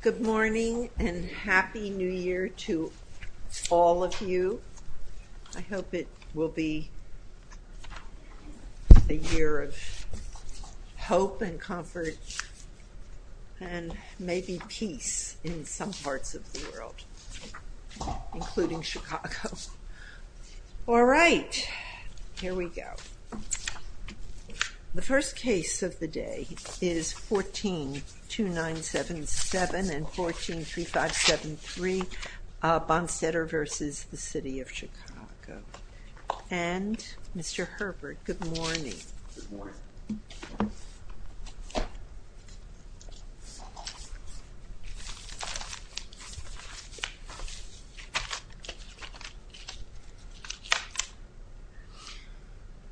Good morning and Happy New Year to all of you. I hope it will be a Year of hope and comfort and Maybe peace in some parts of the world Including Chicago All right, here we go The first case of the day is 14 2 9 7 7 and 14 3 5 7 3 Bonsetter vs. The City of Chicago and Mr. Herbert. Good morning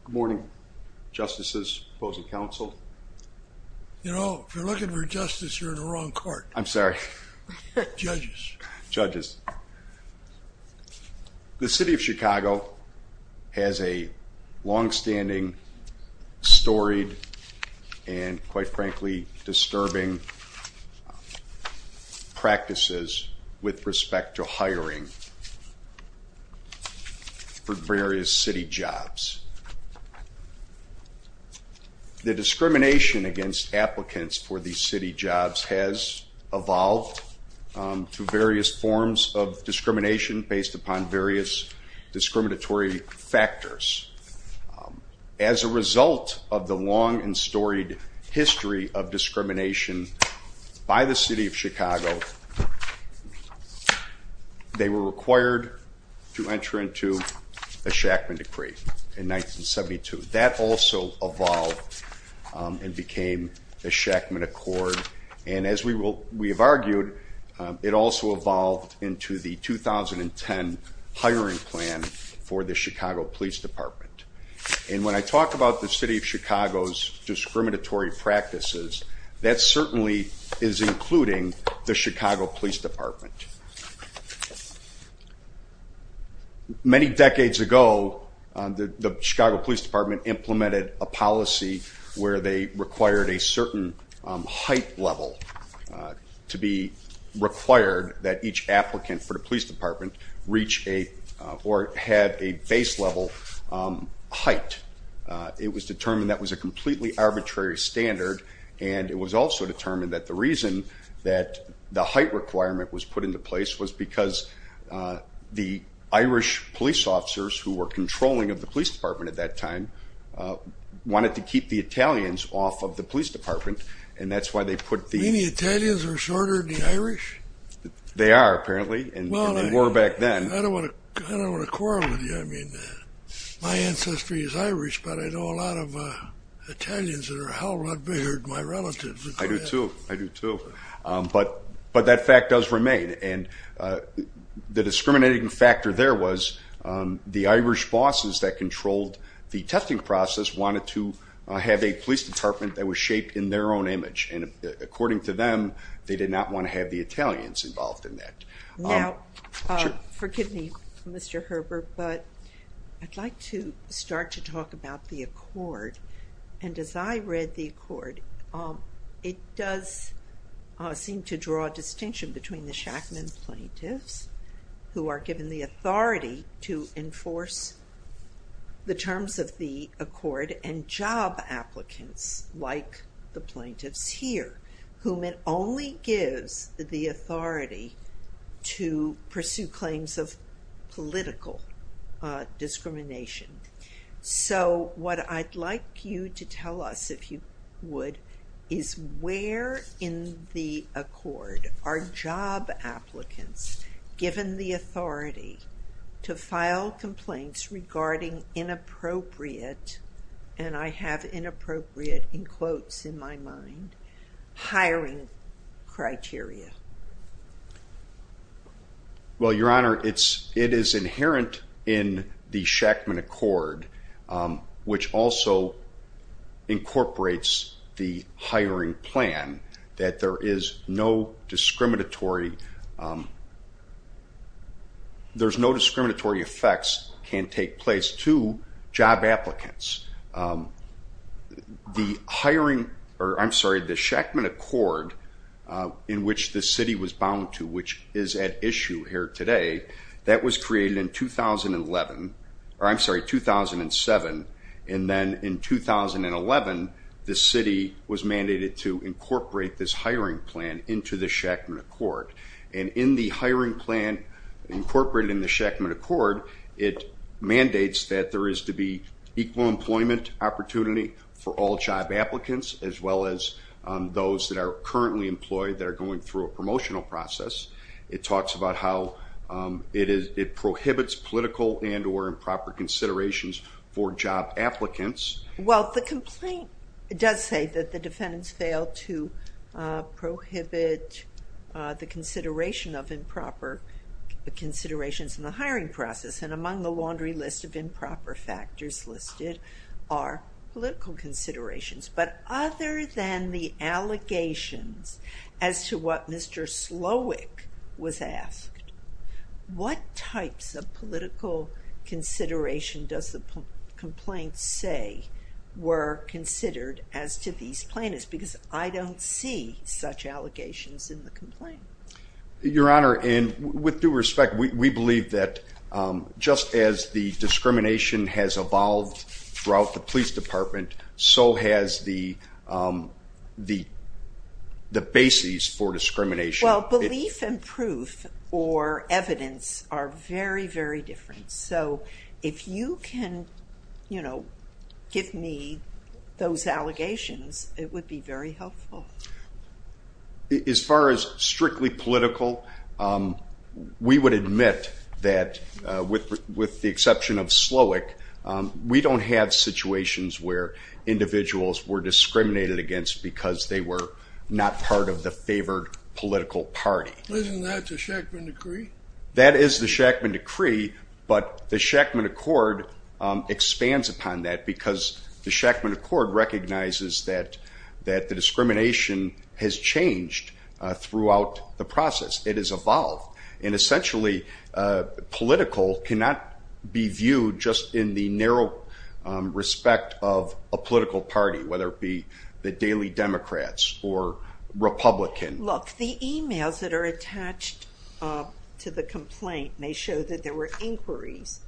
Morning justices opposing counsel You know if you're looking for justice you're in the wrong court, I'm sorry judges The City of Chicago has a long-standing Storied and quite frankly disturbing Practices with respect to hiring For various city jobs The Discrimination against applicants for these city jobs has evolved to various forms of discrimination based upon various discriminatory factors As a result of the long and storied history of discrimination by the City of Chicago They Were required to enter into a Shackman Decree in 1972 that also evolved And became the Shackman Accord and as we will we have argued it also evolved into the 2010 hiring plan for the Chicago Police Department And when I talk about the City of Chicago's Chicago Police Department Many decades ago The Chicago Police Department implemented a policy where they required a certain height level to be Required that each applicant for the police department reach a or had a base level height It was determined that was a completely arbitrary standard and it was also determined that the reason that the height requirement was put into place was because The Irish police officers who were controlling of the police department at that time Wanted to keep the Italians off of the police department, and that's why they put the Italians are shorter than Irish They are apparently and more back then My ancestry is Irish, but I know a lot of Italians that are a hell of a beard my relatives. I do too. I do too, but but that fact does remain and the discriminating factor there was the Irish bosses that controlled the testing process wanted to Have a police department that was shaped in their own image and according to them They did not want to have the Italians involved in that now Forgive me, Mr. Herbert, but I'd like to start to talk about the Accord and as I read the Accord it does Seem to draw a distinction between the Shackman plaintiffs who are given the authority to enforce the terms of the Accord and job applicants like the plaintiffs here whom it only gives the authority to pursue claims of political Discrimination So what I'd like you to tell us if you would is where in the Accord are job applicants given the authority to file complaints regarding Inappropriate and I have inappropriate in quotes in my mind hiring criteria Well Your honor, it's it is inherent in the Shackman Accord which also Incorporates the hiring plan that there is no discriminatory There's no discriminatory effects can take place to job applicants The hiring or I'm sorry the Shackman Accord In which the city was bound to which is at issue here today that was created in 2011 or I'm sorry 2007 and then in 2011 the city was mandated to incorporate this hiring plan into the Shackman Accord and in the hiring plan Incorporated in the Shackman Accord it mandates that there is to be equal employment opportunity for all job applicants as well as Those that are currently employed that are going through a promotional process. It talks about how It is it prohibits political and or improper considerations for job applicants well, the complaint does say that the defendants failed to prohibit the consideration of improper considerations in the hiring process and among the laundry list of improper factors listed are Political considerations, but other than the Allegations as to what mr. Slowick was asked What types of political? consideration does the Complaints say were considered as to these plaintiffs because I don't see such allegations in the complaint Your honor and with due respect. We believe that Just as the discrimination has evolved throughout the police department so has the the the bases for discrimination well belief and proof or Evidence are very very different. So if you can, you know, give me Those allegations it would be very helpful As far as strictly political We would admit that with the exception of Slowick We don't have situations where Individuals were discriminated against because they were not part of the favored political party Isn't that the Shackman decree? That is the Shackman decree, but the Shackman Accord Expands upon that because the Shackman Accord recognizes that that the discrimination has changed throughout the process it is evolved and essentially Political cannot be viewed just in the narrow respect of a political party, whether it be the Daily Democrats or Republican look the emails that are attached To the complaint may show that there were inquiries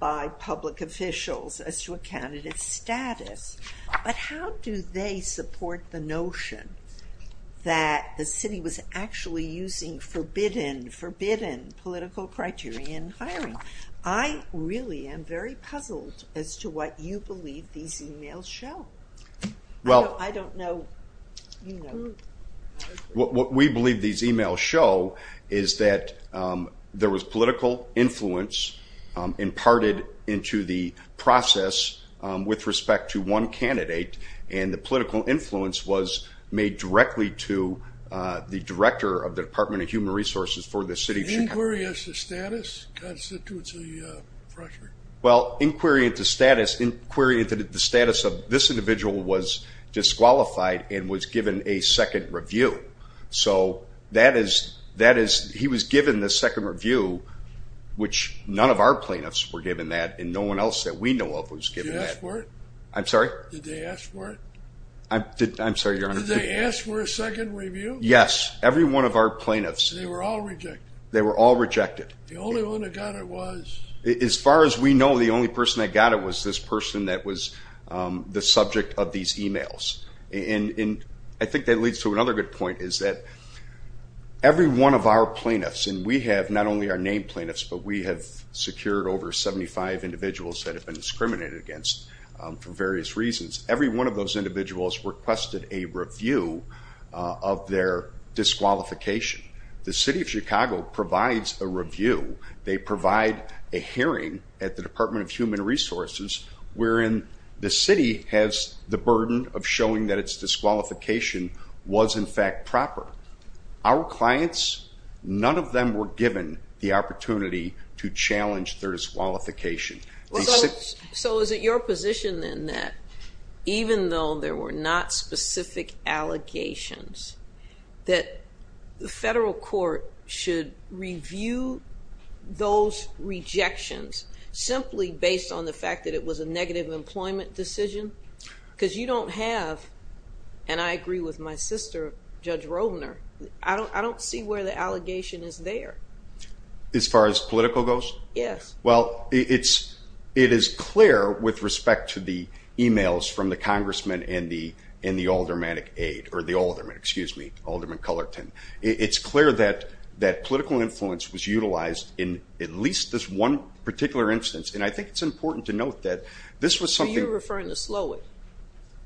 by public officials as to a candidate status But how do they support the notion? That the city was actually using forbidden forbidden political criteria in hiring I Really am very puzzled as to what you believe these emails show Well, I don't know What we believe these emails show is that There was political influence imparted into the process With respect to one candidate and the political influence was made directly to The director of the Department of Human Resources for the city of Chicago. The inquiry into status constitutes a fracture? Well inquiry into status inquiry into the status of this individual was Disqualified and was given a second review. So that is that is he was given the second review Which none of our plaintiffs were given that and no one else that we know of was given that. Did they ask for it? I'm sorry. Did they ask for it? I'm sorry your honor. Did they ask for a second review? Yes, every one of our plaintiffs. They were all rejected. They were all rejected. The only one that got it was. As far as we know the only person that got it was this person that was the subject of these emails and in I think that leads to another good point is that Every one of our plaintiffs and we have not only our named plaintiffs But we have secured over 75 individuals that have been discriminated against for various reasons. Every one of those individuals requested a review of their Disqualification. The city of Chicago provides a review. They provide a hearing at the Department of Human Resources Wherein the city has the burden of showing that its disqualification Was in fact proper. Our clients, none of them were given the opportunity to challenge their disqualification. So is it your position then that even though there were not specific allegations that The federal court should review those rejections simply based on the fact that it was a negative employment decision because you don't have and I agree with my sister Judge Rovner. I don't I don't see where the allegation is there. As far as political goes? Yes. Well, it's it is clear with respect to the emails from the congressman and the in the aldermanic aide or the alderman Excuse me, Alderman Cullerton It's clear that that political influence was utilized in at least this one Particular instance and I think it's important to note that this was something. So you're referring to Slowick?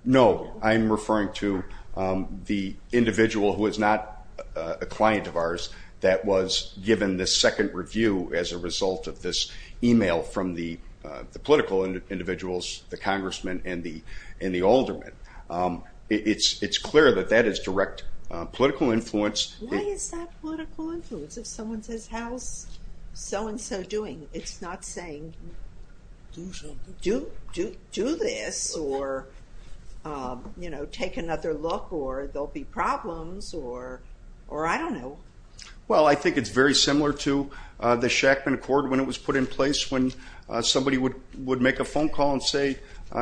No, I'm referring to the individual who is not a client of ours that was given the second review as a result of this email from the The political individuals, the congressman and the alderman. It's it's clear that that is direct political influence. Why is that political influence? If someone says how's so-and-so doing? It's not saying Do this or You know take another look or there'll be problems or or I don't know. Well, I think it's very similar to the Shackman Accord when it was put in place when Somebody would would make a phone call and say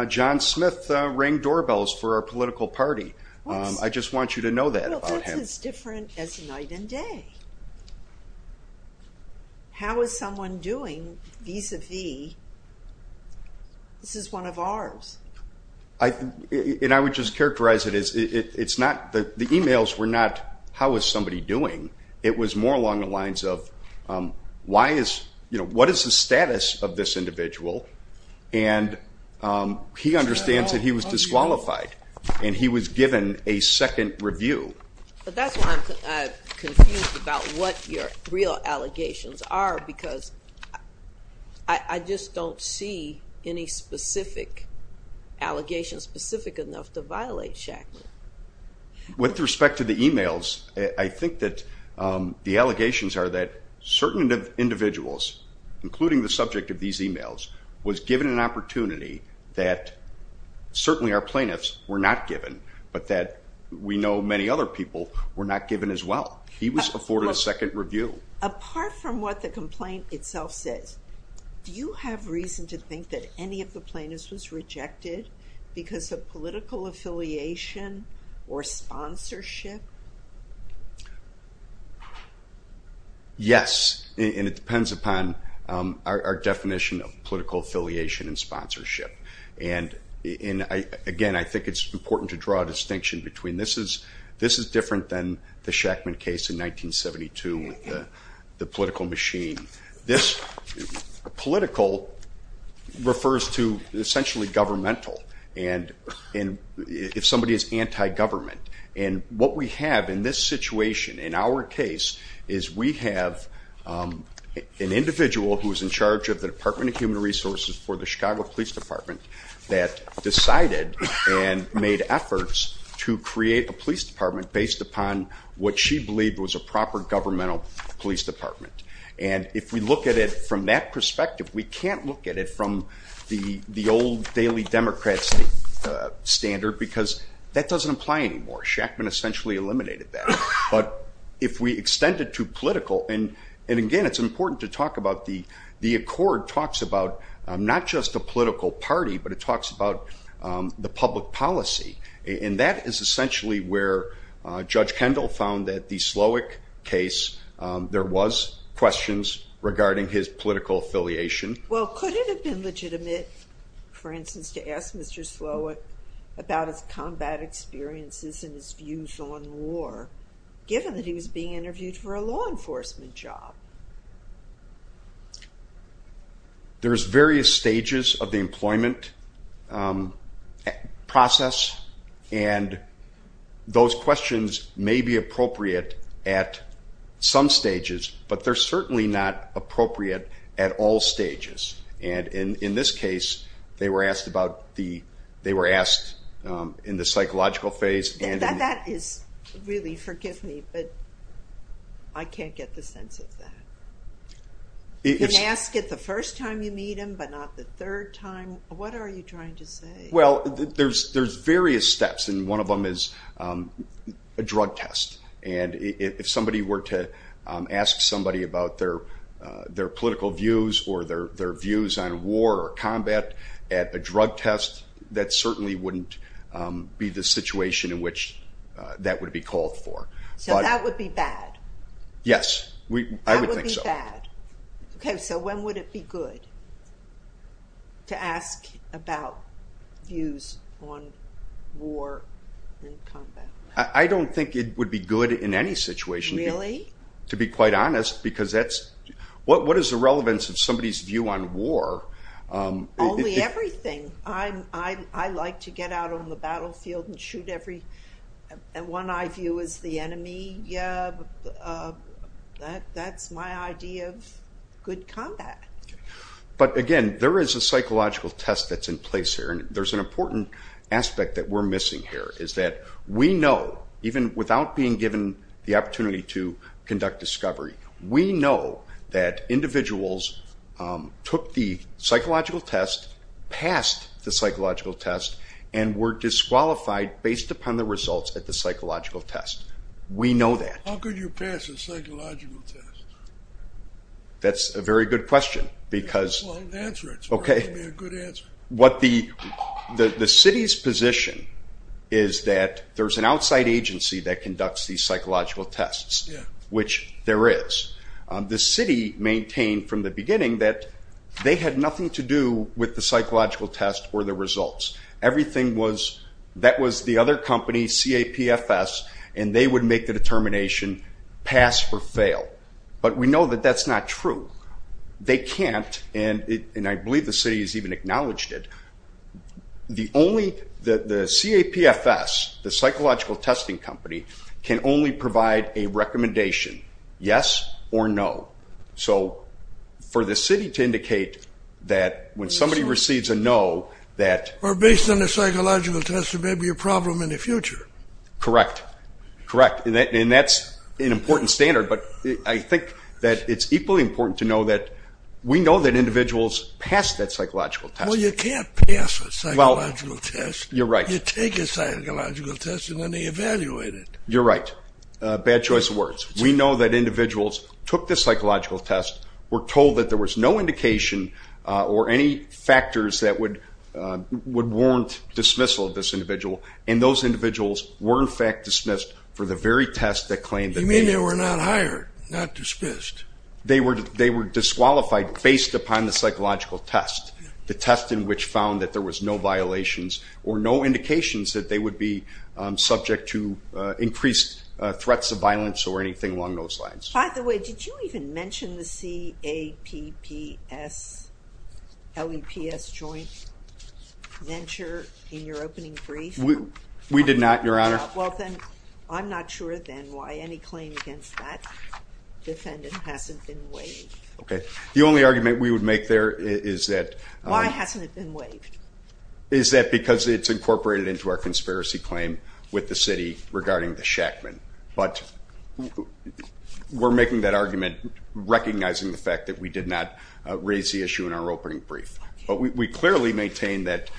John Smith rang doorbells for our political party. I just want you to know that. Well, that's as different as night and day. How is someone doing vis-a-vis, this is one of ours. And I would just characterize it as it's not that the emails were not how is somebody doing? It was more along the lines of why is you know, what is the status of this individual and He understands that he was disqualified and he was given a second review. But that's why I'm confused about what your real allegations are because I just don't see any specific allegations specific enough to violate Shackman. With respect to the emails, I think that the allegations are that certain individuals including the subject of these emails was given an opportunity that we know many other people were not given as well. He was afforded a second review. Apart from what the complaint itself says, do you have reason to think that any of the plaintiffs was rejected because of political affiliation or sponsorship? Yes, and it depends upon our definition of political affiliation and sponsorship and again, I think it's important to draw a distinction between. This is different than the Shackman case in 1972 with the political machine. This political refers to essentially governmental and if somebody is anti-government. And what we have in this situation in our case is we have an individual who is in charge of the Department of Human Resources for the Chicago Police Department that decided and made efforts to create a police department based upon what she believed was a proper governmental police department. And if we look at it from that perspective, we can't look at it from the the old daily Democrats standard because that doesn't apply anymore. Shackman essentially eliminated that. But if we extend it to political and again, it's important to talk about the Accord talks about not just a political party, but it talks about the public policy. And that is essentially where Judge Kendall found that the Slowick case, there was questions regarding his political affiliation. Well, could it have been legitimate, for instance, to ask Mr. Slowick about his combat experiences and his views on war given that he was being interviewed for a law enforcement job? There's various stages of the employment process and those questions may be appropriate at some stages, but they're certainly not appropriate at all stages. And in this case, they were asked about the, they were asked in the psychological phase. That is really, forgive me, but I You can ask it the first time you meet him, but not the third time. What are you trying to say? Well, there's various steps and one of them is a drug test. And if somebody were to ask somebody about their political views or their views on war or combat at a drug test, that certainly wouldn't be the situation in which that would be called for. So that would be bad? Yes, I would think so. That would be bad. Okay, so when would it be good to ask about views on war and combat? I don't think it would be good in any situation. Really? To be quite honest, because that's, what is the relevance of somebody's view on war? Only everything. I like to get out on the battlefield and shoot every, one I view as the enemy that that's my idea of good combat. But again, there is a psychological test that's in place here and there's an important aspect that we're missing here is that we know, even without being given the opportunity to conduct discovery, we know that individuals took the psychological test, passed the psychological test, and were disqualified based upon the results at the psychological test. We know that. How could you pass a psychological test? That's a very good question because, okay, what the city's position is that there's an outside agency that conducts these psychological tests, which there is. The city maintained from the beginning that they had nothing to do with the psychological test or the results. Everything was, that was the other company, CAPFS, and they would make the determination pass or fail. But we know that that's not true. They can't, and I believe the city has even acknowledged it, the only, the CAPFS, the psychological testing company, can only provide a recommendation. Yes or no. So for the city to indicate that when somebody receives a no, that... Or based on the psychological test, there may be a problem in the future. Correct. Correct, and that's an important standard, but I think that it's equally important to know that we know that individuals passed that psychological test. Well, you can't pass a psychological test. You're right. You take a psychological test and then they evaluate it. You're right. Bad choice of words. We know that individuals took the psychological test, were told that there was no indication or any factors that would warrant dismissal of this individual, and those individuals were in fact dismissed for the very test that claimed... You mean they were not hired, not dismissed. They were disqualified based upon the psychological test, the test in which found that there was no violations or no indications that they would be threats of violence or anything along those lines. By the way, did you even mention the CAPPS-LEPS joint venture in your opening brief? We did not, Your Honor. Well then, I'm not sure then why any claim against that defendant hasn't been waived. Okay, the only argument we would make there is that... Why hasn't it been waived? Is that because it's incorporated into our conspiracy claim with the city regarding the Shackman, but we're making that argument recognizing the fact that we did not raise the issue in our opening brief. But we clearly maintain that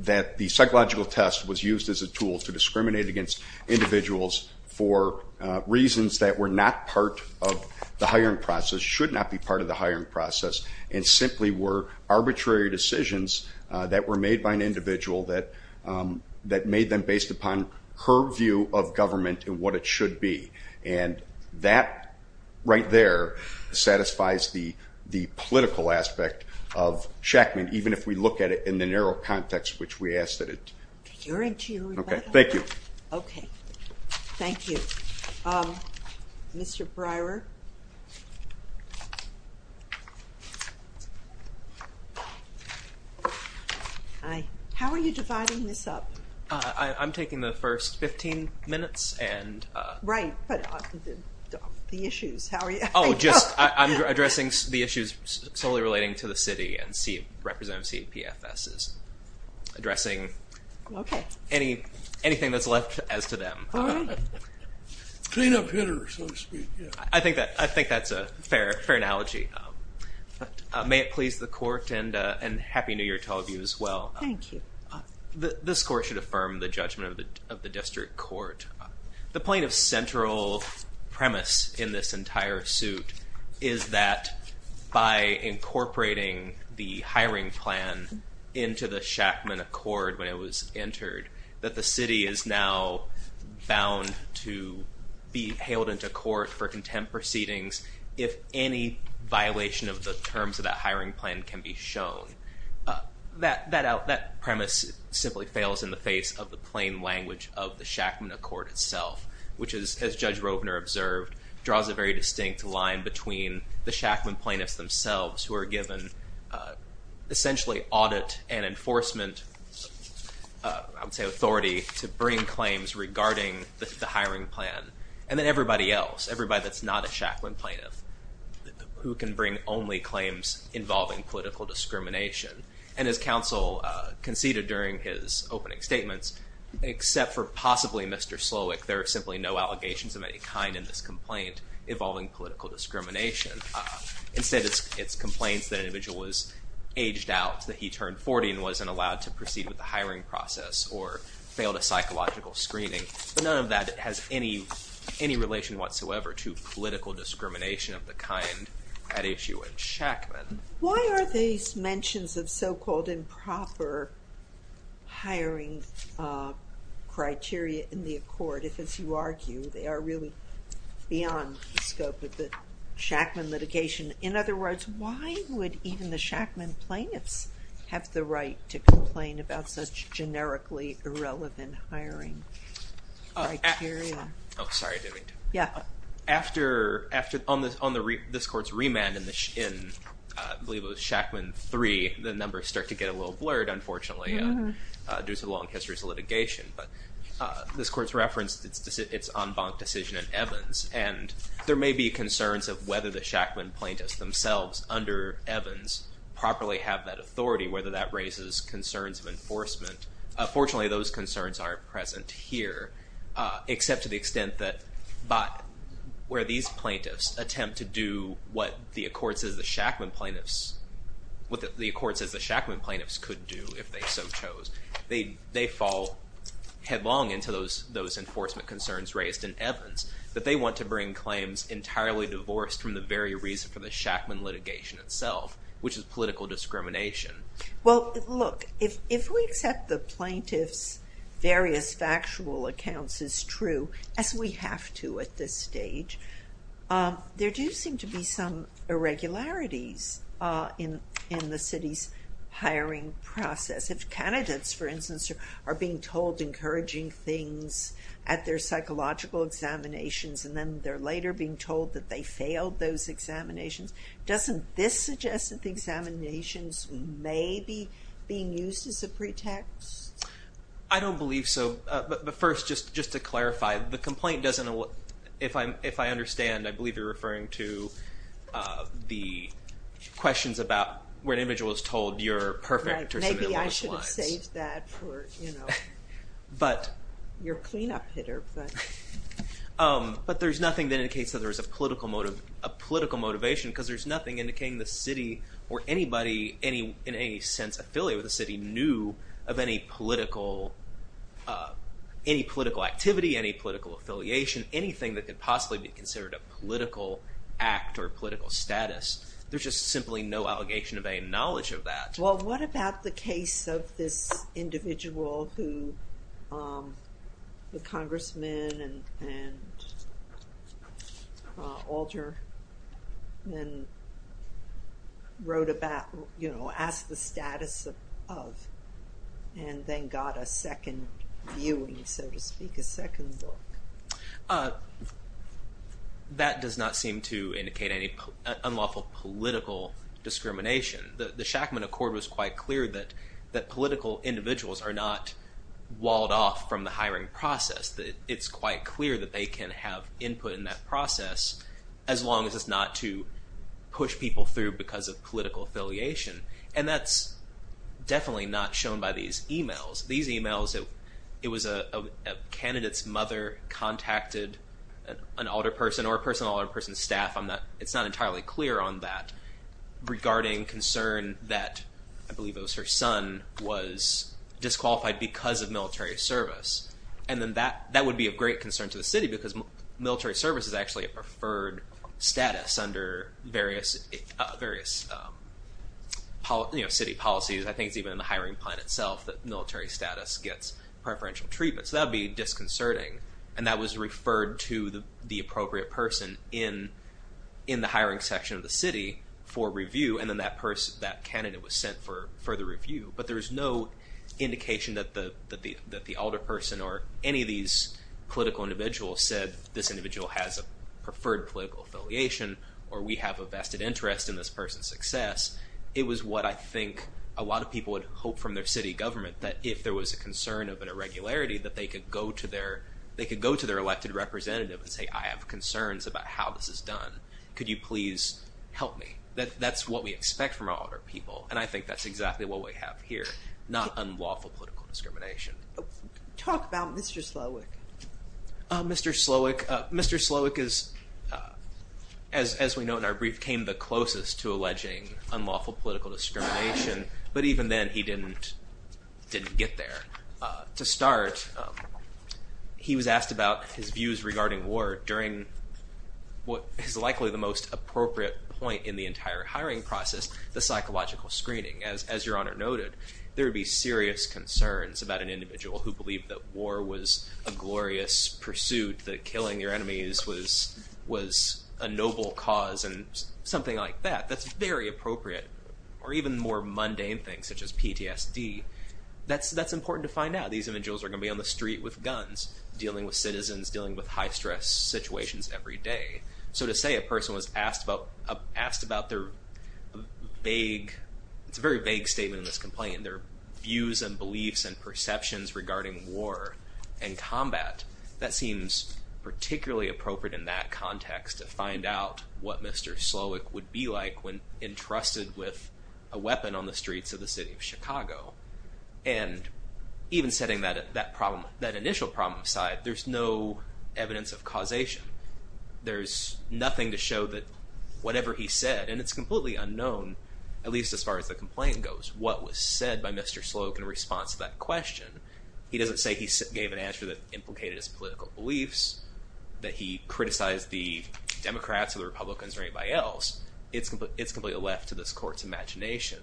that the psychological test was used as a tool to discriminate against individuals for reasons that were not part of the hiring process, should not be part of the hiring process, and simply were arbitrary decisions that were made by an individual that that made them based upon her view of government and what it should be. And that right there satisfies the the political aspect of Shackman, even if we look at it in the narrow context, which we ask that it... Mr. Breyer? Hi. How are you dividing this up? I'm taking the first 15 minutes and... Right, but the issues, how are you? Oh, just I'm addressing the issues solely relating to the city and Representative CEPFS is addressing Okay, any anything that's left as to them. Clean up hitters, so to speak. I think that I think that's a fair analogy. But may it please the court and and happy New Year to all of you as well. Thank you. This court should affirm the judgment of the of the district court. The point of central premise in this entire suit is that by incorporating the hiring plan into the Shackman Accord when it was entered, that the city is now bound to be hailed into court for contempt proceedings if any violation of the terms of that hiring plan can be shown. That premise simply fails in the face of the plain language of the Shackman Accord itself, which is, as Judge Rovner observed, draws a very distinct line between the Shackman plaintiffs themselves who are given essentially audit and enforcement I would say authority to bring claims regarding the hiring plan and then everybody else, everybody that's not a Shackman plaintiff who can bring only claims involving political discrimination. And as counsel conceded during his opening statements, except for possibly Mr. Slowick, there are simply no allegations of any kind in this complaint involving political discrimination. Instead it's it's complaints that individual was aged out, that he turned 40 and wasn't allowed to proceed with the hiring process or failed a psychological screening. But none of that has any any relation whatsoever to political discrimination of the kind at issue in Shackman. Why are these mentions of so-called improper hiring criteria in the Accord if, as you argue, they are really beyond the scope of the Shackman litigation? In other words, why would even the Shackman plaintiffs have the right to complain about such generically irrelevant hiring criteria? Sorry, David. Yeah. After, on this court's remand in I believe it was Shackman 3, the numbers start to get a little blurred, unfortunately, due to the long history of litigation. But this court's referenced its en banc decision in Evans, and there may be concerns of whether the Shackman plaintiffs themselves under Evans properly have that authority, whether that raises concerns of enforcement. Fortunately, those concerns aren't present here, except to the extent that, but where these plaintiffs attempt to do what the Accord says the Shackman plaintiffs, what the Accord says the Shackman plaintiffs could do if they so chose, they they fall headlong into those enforcement concerns raised in Evans, that they want to bring claims entirely divorced from the very reason for the Shackman litigation itself, which is political discrimination. Well, look, if we accept the plaintiff's various factual accounts as true, as we have to at this stage, there do seem to be some irregularities in the city's plaintiffs, who are being told encouraging things at their psychological examinations, and then they're later being told that they failed those examinations. Doesn't this suggest that the examinations may be being used as a pretext? I don't believe so, but first, just to clarify, the complaint doesn't, if I understand, I believe you're referring to the questions about where an individual is told you're perfect. Maybe I should have saved that for, you know, your cleanup hitter. But there's nothing that indicates that there is a political motive, a political motivation, because there's nothing indicating the city or anybody any, in any sense, affiliate with the city knew of any political, any political activity, any political affiliation, anything that could possibly be considered a political act or political status. There's just simply no allegation of any knowledge of that. Well, what about the case of this individual who the Congressman and Alderman wrote about, you know, asked the status of, and then got a second viewing, so to speak, a second look. That does not seem to indicate any unlawful political discrimination. The Shackman Accord was quite clear that that political individuals are not walled off from the hiring process, that it's quite clear that they can have input in that process as long as it's not to push people through because of political affiliation, and that's definitely not shown by these emails. These emails, it was a candidate's mother contacted an alder person or a person, an alder person's staff. I'm not, it's not entirely clear on that regarding concern that, I believe it was her son, was disqualified because of military service, and then that, that would be of great concern to the city because military service is actually a preferred status under various, various policies, you know, city policies. I think it's even in the hiring plan itself that military status gets preferential treatment. So that would be disconcerting, and that was referred to the appropriate person in, in the hiring section of the city for review, and then that person, that candidate was sent for further review. But there is no indication that the, that the, that the alder person or any of these political individuals said, this individual has a preferred political affiliation, or we have a vested interest in this person's success. It was what I think a lot of people would hope from their city government, that if there was a concern of an irregularity, that they could go to their, they could go to their elected representative and say, I have concerns about how this is done. Could you please help me? That, that's what we expect from alder people, and I think that's exactly what we have here, not unlawful political discrimination. Talk about Mr. Slowick. Mr. Slowick, Mr. Slowick is, as, as we know in our brief, came the closest to alleging unlawful political discrimination, but even then he didn't, didn't get there. To start, he was asked about his views regarding war during what is likely the most appropriate point in the entire hiring process, the psychological screening. As, as Your Honor noted, there would be serious concerns about an individual who believed that war was a glorious pursuit, that killing your enemies was, was a noble cause, and something like that. That's very appropriate, or even more mundane things, such as PTSD. That's, that's important to find out. These individuals are gonna be on the street with guns, dealing with citizens, dealing with high-stress situations every day. So to say a person was asked about, asked about their vague, it's a very vague statement in this complaint, their views and beliefs and perceptions regarding war and combat, that seems particularly appropriate in that context to find out what Mr. Slowick would be like when entrusted with a weapon on the streets of the city of Chicago. And even setting that, that problem, that initial problem aside, there's no evidence of causation. There's nothing to show that whatever he said, and it's completely unknown, at least as far as the complaint goes, what was said by Mr. Slowick in response to that question. He doesn't say he gave an answer that implicated his political beliefs, that he criticized the Democrats or the Republicans or anybody else. It's, it's completely left to this court's imagination.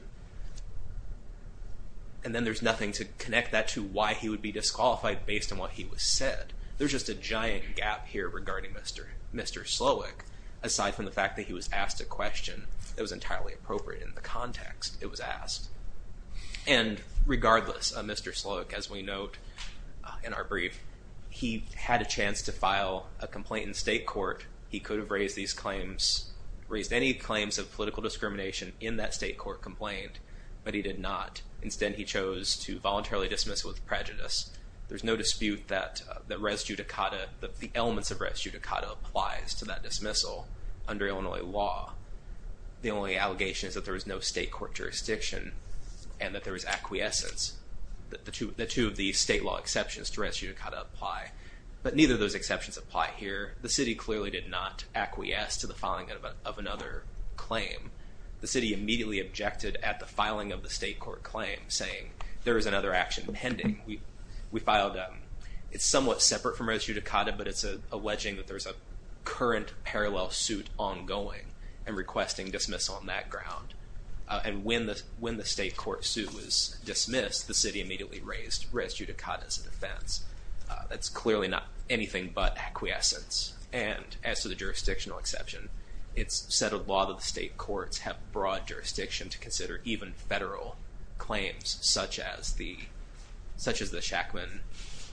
And then there's nothing to connect that to why he would be disqualified based on what he was said. There's just a giant gap here regarding Mr., Mr. Slowick, aside from the fact that he was asked a question that was entirely appropriate in the context it was asked. And regardless, Mr. Slowick, as we note in our brief, he had a chance to file a complaint in state court. He could have raised these claims, raised any claims of political discrimination in that state court complaint, but he did not. Instead, he chose to voluntarily dismiss with prejudice. There's no dispute that, that res judicata, that the elements of res judicata applies to that dismissal under Illinois law. The only allegation is that there is no state court jurisdiction and that there is acquiescence, that the two, the two of the state law exceptions to res judicata apply. But neither of those exceptions apply here. The city clearly did not acquiesce to the filing of another claim. The city immediately objected at the filing of the state court claim, saying there is another action pending. We, we filed a, it's somewhat separate from res judicata, but it's alleging that there's a claim requesting dismissal on that ground. And when the, when the state court suit was dismissed, the city immediately raised res judicata as a defense. That's clearly not anything but acquiescence. And as to the jurisdictional exception, it's said a lot of the state courts have broad jurisdiction to consider even federal claims, such as the, such as the Shackman,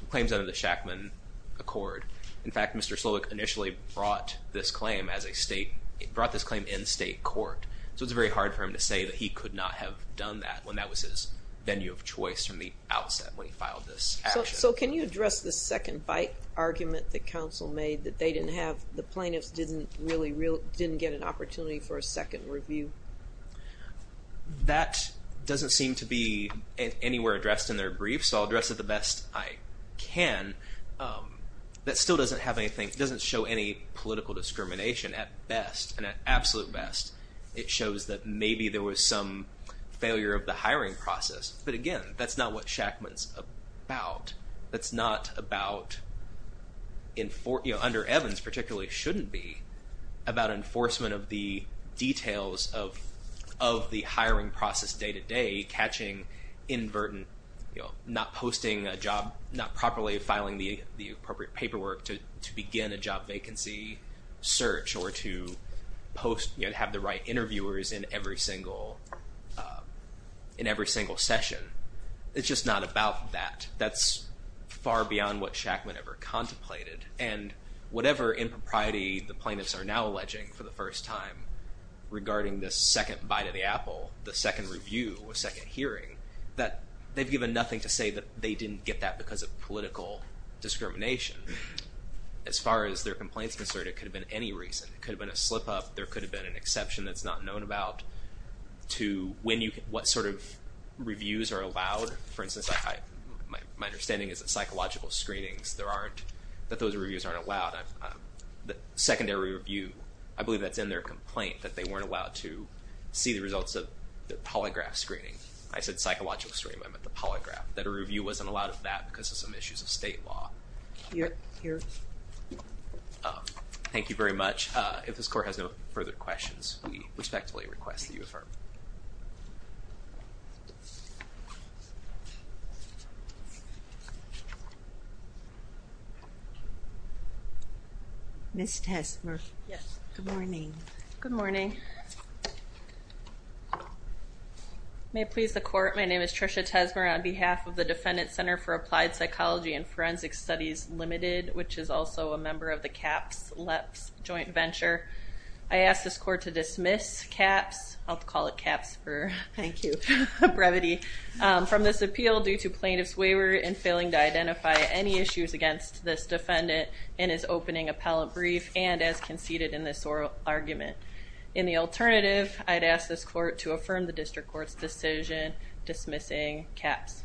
claims under the Shackman Accord. In fact, Mr. Slowick initially brought this claim as a state, brought this claim in state court. So it's very hard for him to say that he could not have done that when that was his venue of choice from the outset when he filed this action. So can you address the second bite argument that counsel made that they didn't have, the plaintiffs didn't really real, didn't get an opportunity for a second review? That doesn't seem to be anywhere addressed in their brief, so I'll address it the best I can. That still doesn't have anything, doesn't show any political discrimination at best, and at absolute best, it shows that maybe there was some failure of the hiring process. But again, that's not what Shackman's about. That's not about enfor, you know, under Evans particularly shouldn't be, about enforcement of the details of, of the hiring process day-to-day, catching inadvertent, you know, not posting a job, not properly filing the appropriate paperwork to begin a job vacancy search, or to post, you know, to have the right interviewers in every single, in every single session. It's just not about that. That's far beyond what Shackman ever contemplated. And whatever in propriety the plaintiffs are now alleging for the first time regarding this second bite of the apple, the second review, a second hearing, that they've given nothing to say that they didn't get that because of political discrimination. As far as their complaints concerned, it could have been any reason. It could have been a slip-up. There could have been an exception that's not known about to when you, what sort of reviews are allowed. For instance, my understanding is that psychological screenings, there aren't, that those reviews aren't allowed. The secondary review, I believe that's in their complaint that they weren't allowed to see the results of the polygraph screening. I said psychological screening, I meant the polygraph. That a review wasn't allowed of that because of some issues of state law. Thank you very much. If this court has no further questions, we respectfully request that you affirm. Ms. Tesmer. Yes, good morning. Good morning. May it please the court, my name is Tricia Tesmer on behalf of the Defendant Center for Applied Psychology and Forensic Studies Limited, which is also a member of the CAPS-LEPS joint venture. I asked this court to dismiss CAPS, I'll call it CAPS for, thank you, brevity, from this appeal due to plaintiff's waiver in failing to identify any issues against this defendant in his opening appellant brief and as conceded in this oral argument. In the alternative, I'd ask this court to affirm the district court's decision dismissing CAPS.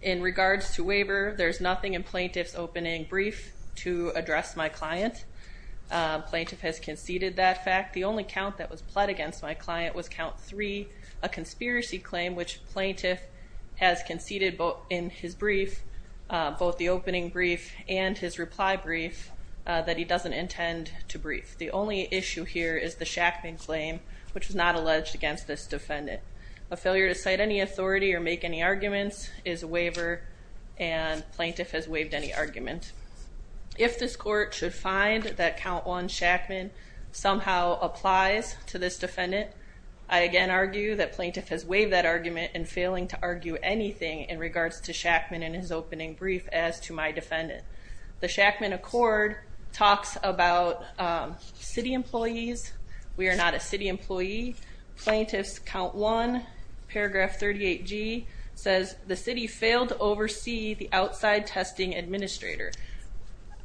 In regards to waiver, there's nothing in plaintiff's opening brief to address my client. Plaintiff has conceded that fact. The only count that was pled against my client was count three, a conspiracy claim, which plaintiff has conceded in his brief, both the opening brief and his reply brief, that he doesn't intend to brief. The only issue here is the Shackman claim, which was not alleged against this defendant. A failure to cite any authority or make any arguments is a waiver and plaintiff has waived any argument. If this court should find that count one, Shackman, somehow applies to this defendant, I again argue that plaintiff has waived that argument in failing to argue anything in regards to Shackman in his opening brief as to my defendant. The Shackman Accord talks about city employees. We are not a city employee. Plaintiff's count one, paragraph 38g, says the city failed to oversee the outside testing administrator.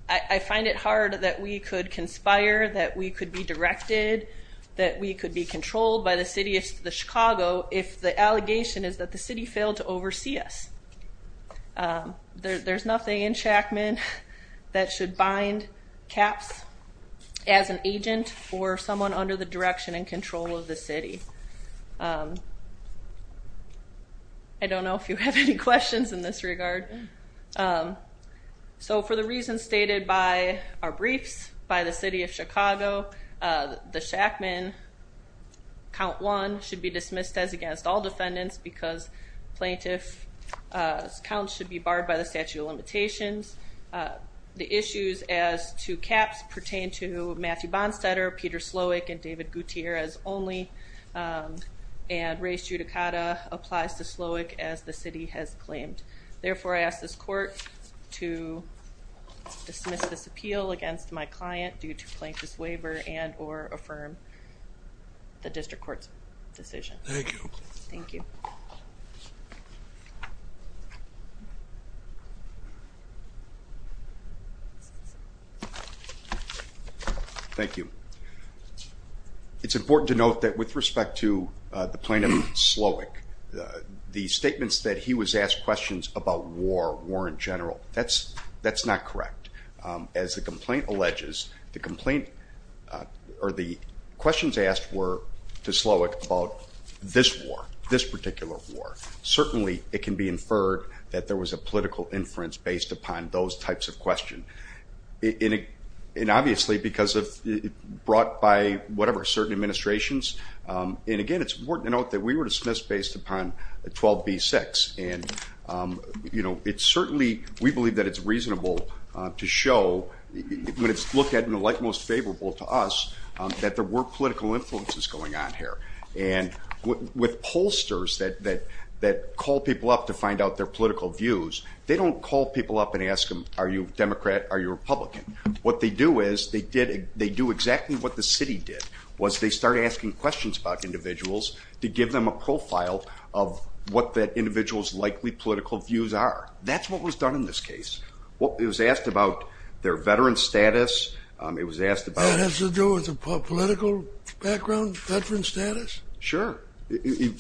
I find it hard that we could conspire, that we could be directed, that we could be controlled by the city of Chicago if the allegation is that the city failed to oversee us. There's nothing in Shackman that should bind CAPS as an agent or someone under the direction and control of the city. I don't know if you have any questions in this regard. So for the reasons stated by our briefs, by the city of Chicago, the Shackman count one should be dismissed as against all defendants because plaintiff's counts should be barred by the statute of limitations. The issues as to CAPS pertain to Matthew Bonstetter, Peter Slowick, and David Gouthier as only and race judicata applies to Slowick as the city has claimed. Therefore, I ask this court to dismiss this appeal against my client due to plaintiff's waiver and or affirm the district court's decision. Thank you. Thank you. Thank you. Thank you. It's important to note that with respect to the plaintiff, Slowick, the statements that he was asked questions about war, war in general, that's not correct. As the complaint alleges, the complaint or the questions asked were to Slowick about this war, this particular war. Certainly, it can be inferred that there was a political inference based upon those types of question. And obviously, because of brought by whatever certain administrations, and again, it's important to note that we were dismissed based upon 12b-6 and you know, it's certainly we believe that it's reasonable to show when it's looked at in the light most favorable to us that there were political influences going on here. And with pollsters that call people up to find out their political views, they don't call people up and ask them, are you Democrat? Are you Republican? What they do is they do exactly what the city did, was they start asking questions about individuals to give them a profile of what that individual's likely political views are. That's what was done in this case. Well, it was asked about their veteran status. It was asked... That has to do with a political background? Veteran status? Sure. You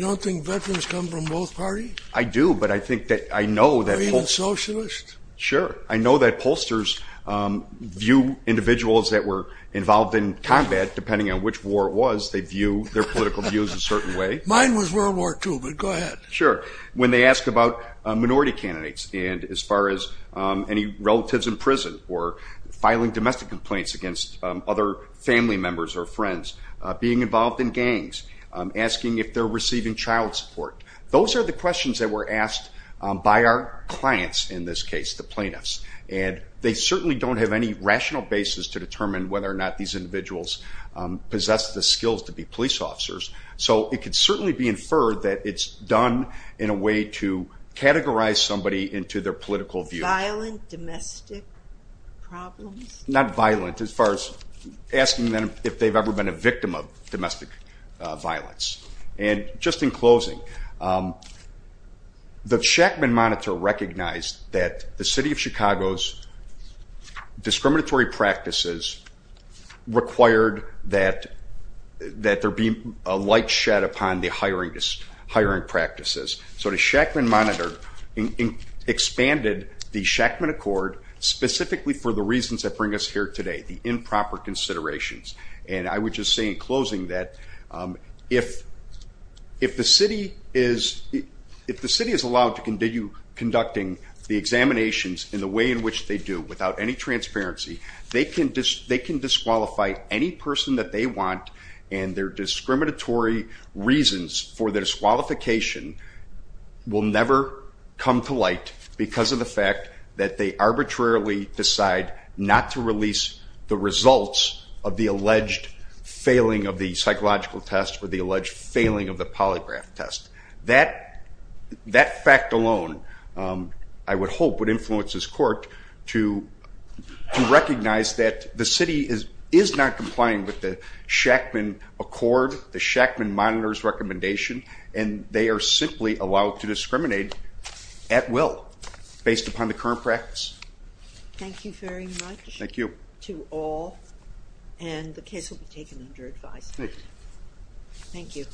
don't think veterans come from both parties? I do, but I think that I know that... Are you a socialist? Sure. I know that pollsters view individuals that were involved in combat, depending on which war it was, they view their political views a certain way. Mine was World War II, but go ahead. Sure. When they asked about minority candidates and as far as any relatives in prison or filing domestic complaints against other family members or friends, being involved in gangs, asking if they're receiving child support, those are the questions that were asked by our clients in this case, the plaintiffs, and they certainly don't have any rational basis to determine whether or not these individuals possess the skills to be police officers, so it could certainly be inferred that it's done in a way to categorize somebody into their political views. Violent domestic problems? Not violent as far as if they've ever been a victim of domestic violence. And just in closing, the Shackman Monitor recognized that the city of Chicago's discriminatory practices required that there be a light shed upon the hiring practices, so the Shackman Monitor expanded the Shackman Accord specifically for the reasons that bring us here today, the improper considerations, and I would just say in closing that if the city is allowed to continue conducting the examinations in the way in which they do without any transparency, they can disqualify any person that they want and their discriminatory reasons for the disqualification will never come to light because of the fact that they arbitrarily decide not to release the results of the alleged failing of the psychological test or the alleged failing of the polygraph test. That fact alone, I would hope, would influence this court to recognize that the city is not complying with the Shackman Accord, the Shackman Monitor's recommendation, and they are simply allowed to discriminate at will based upon the current practice. Thank you very much to all, and the case will be taken under advice. Thank you.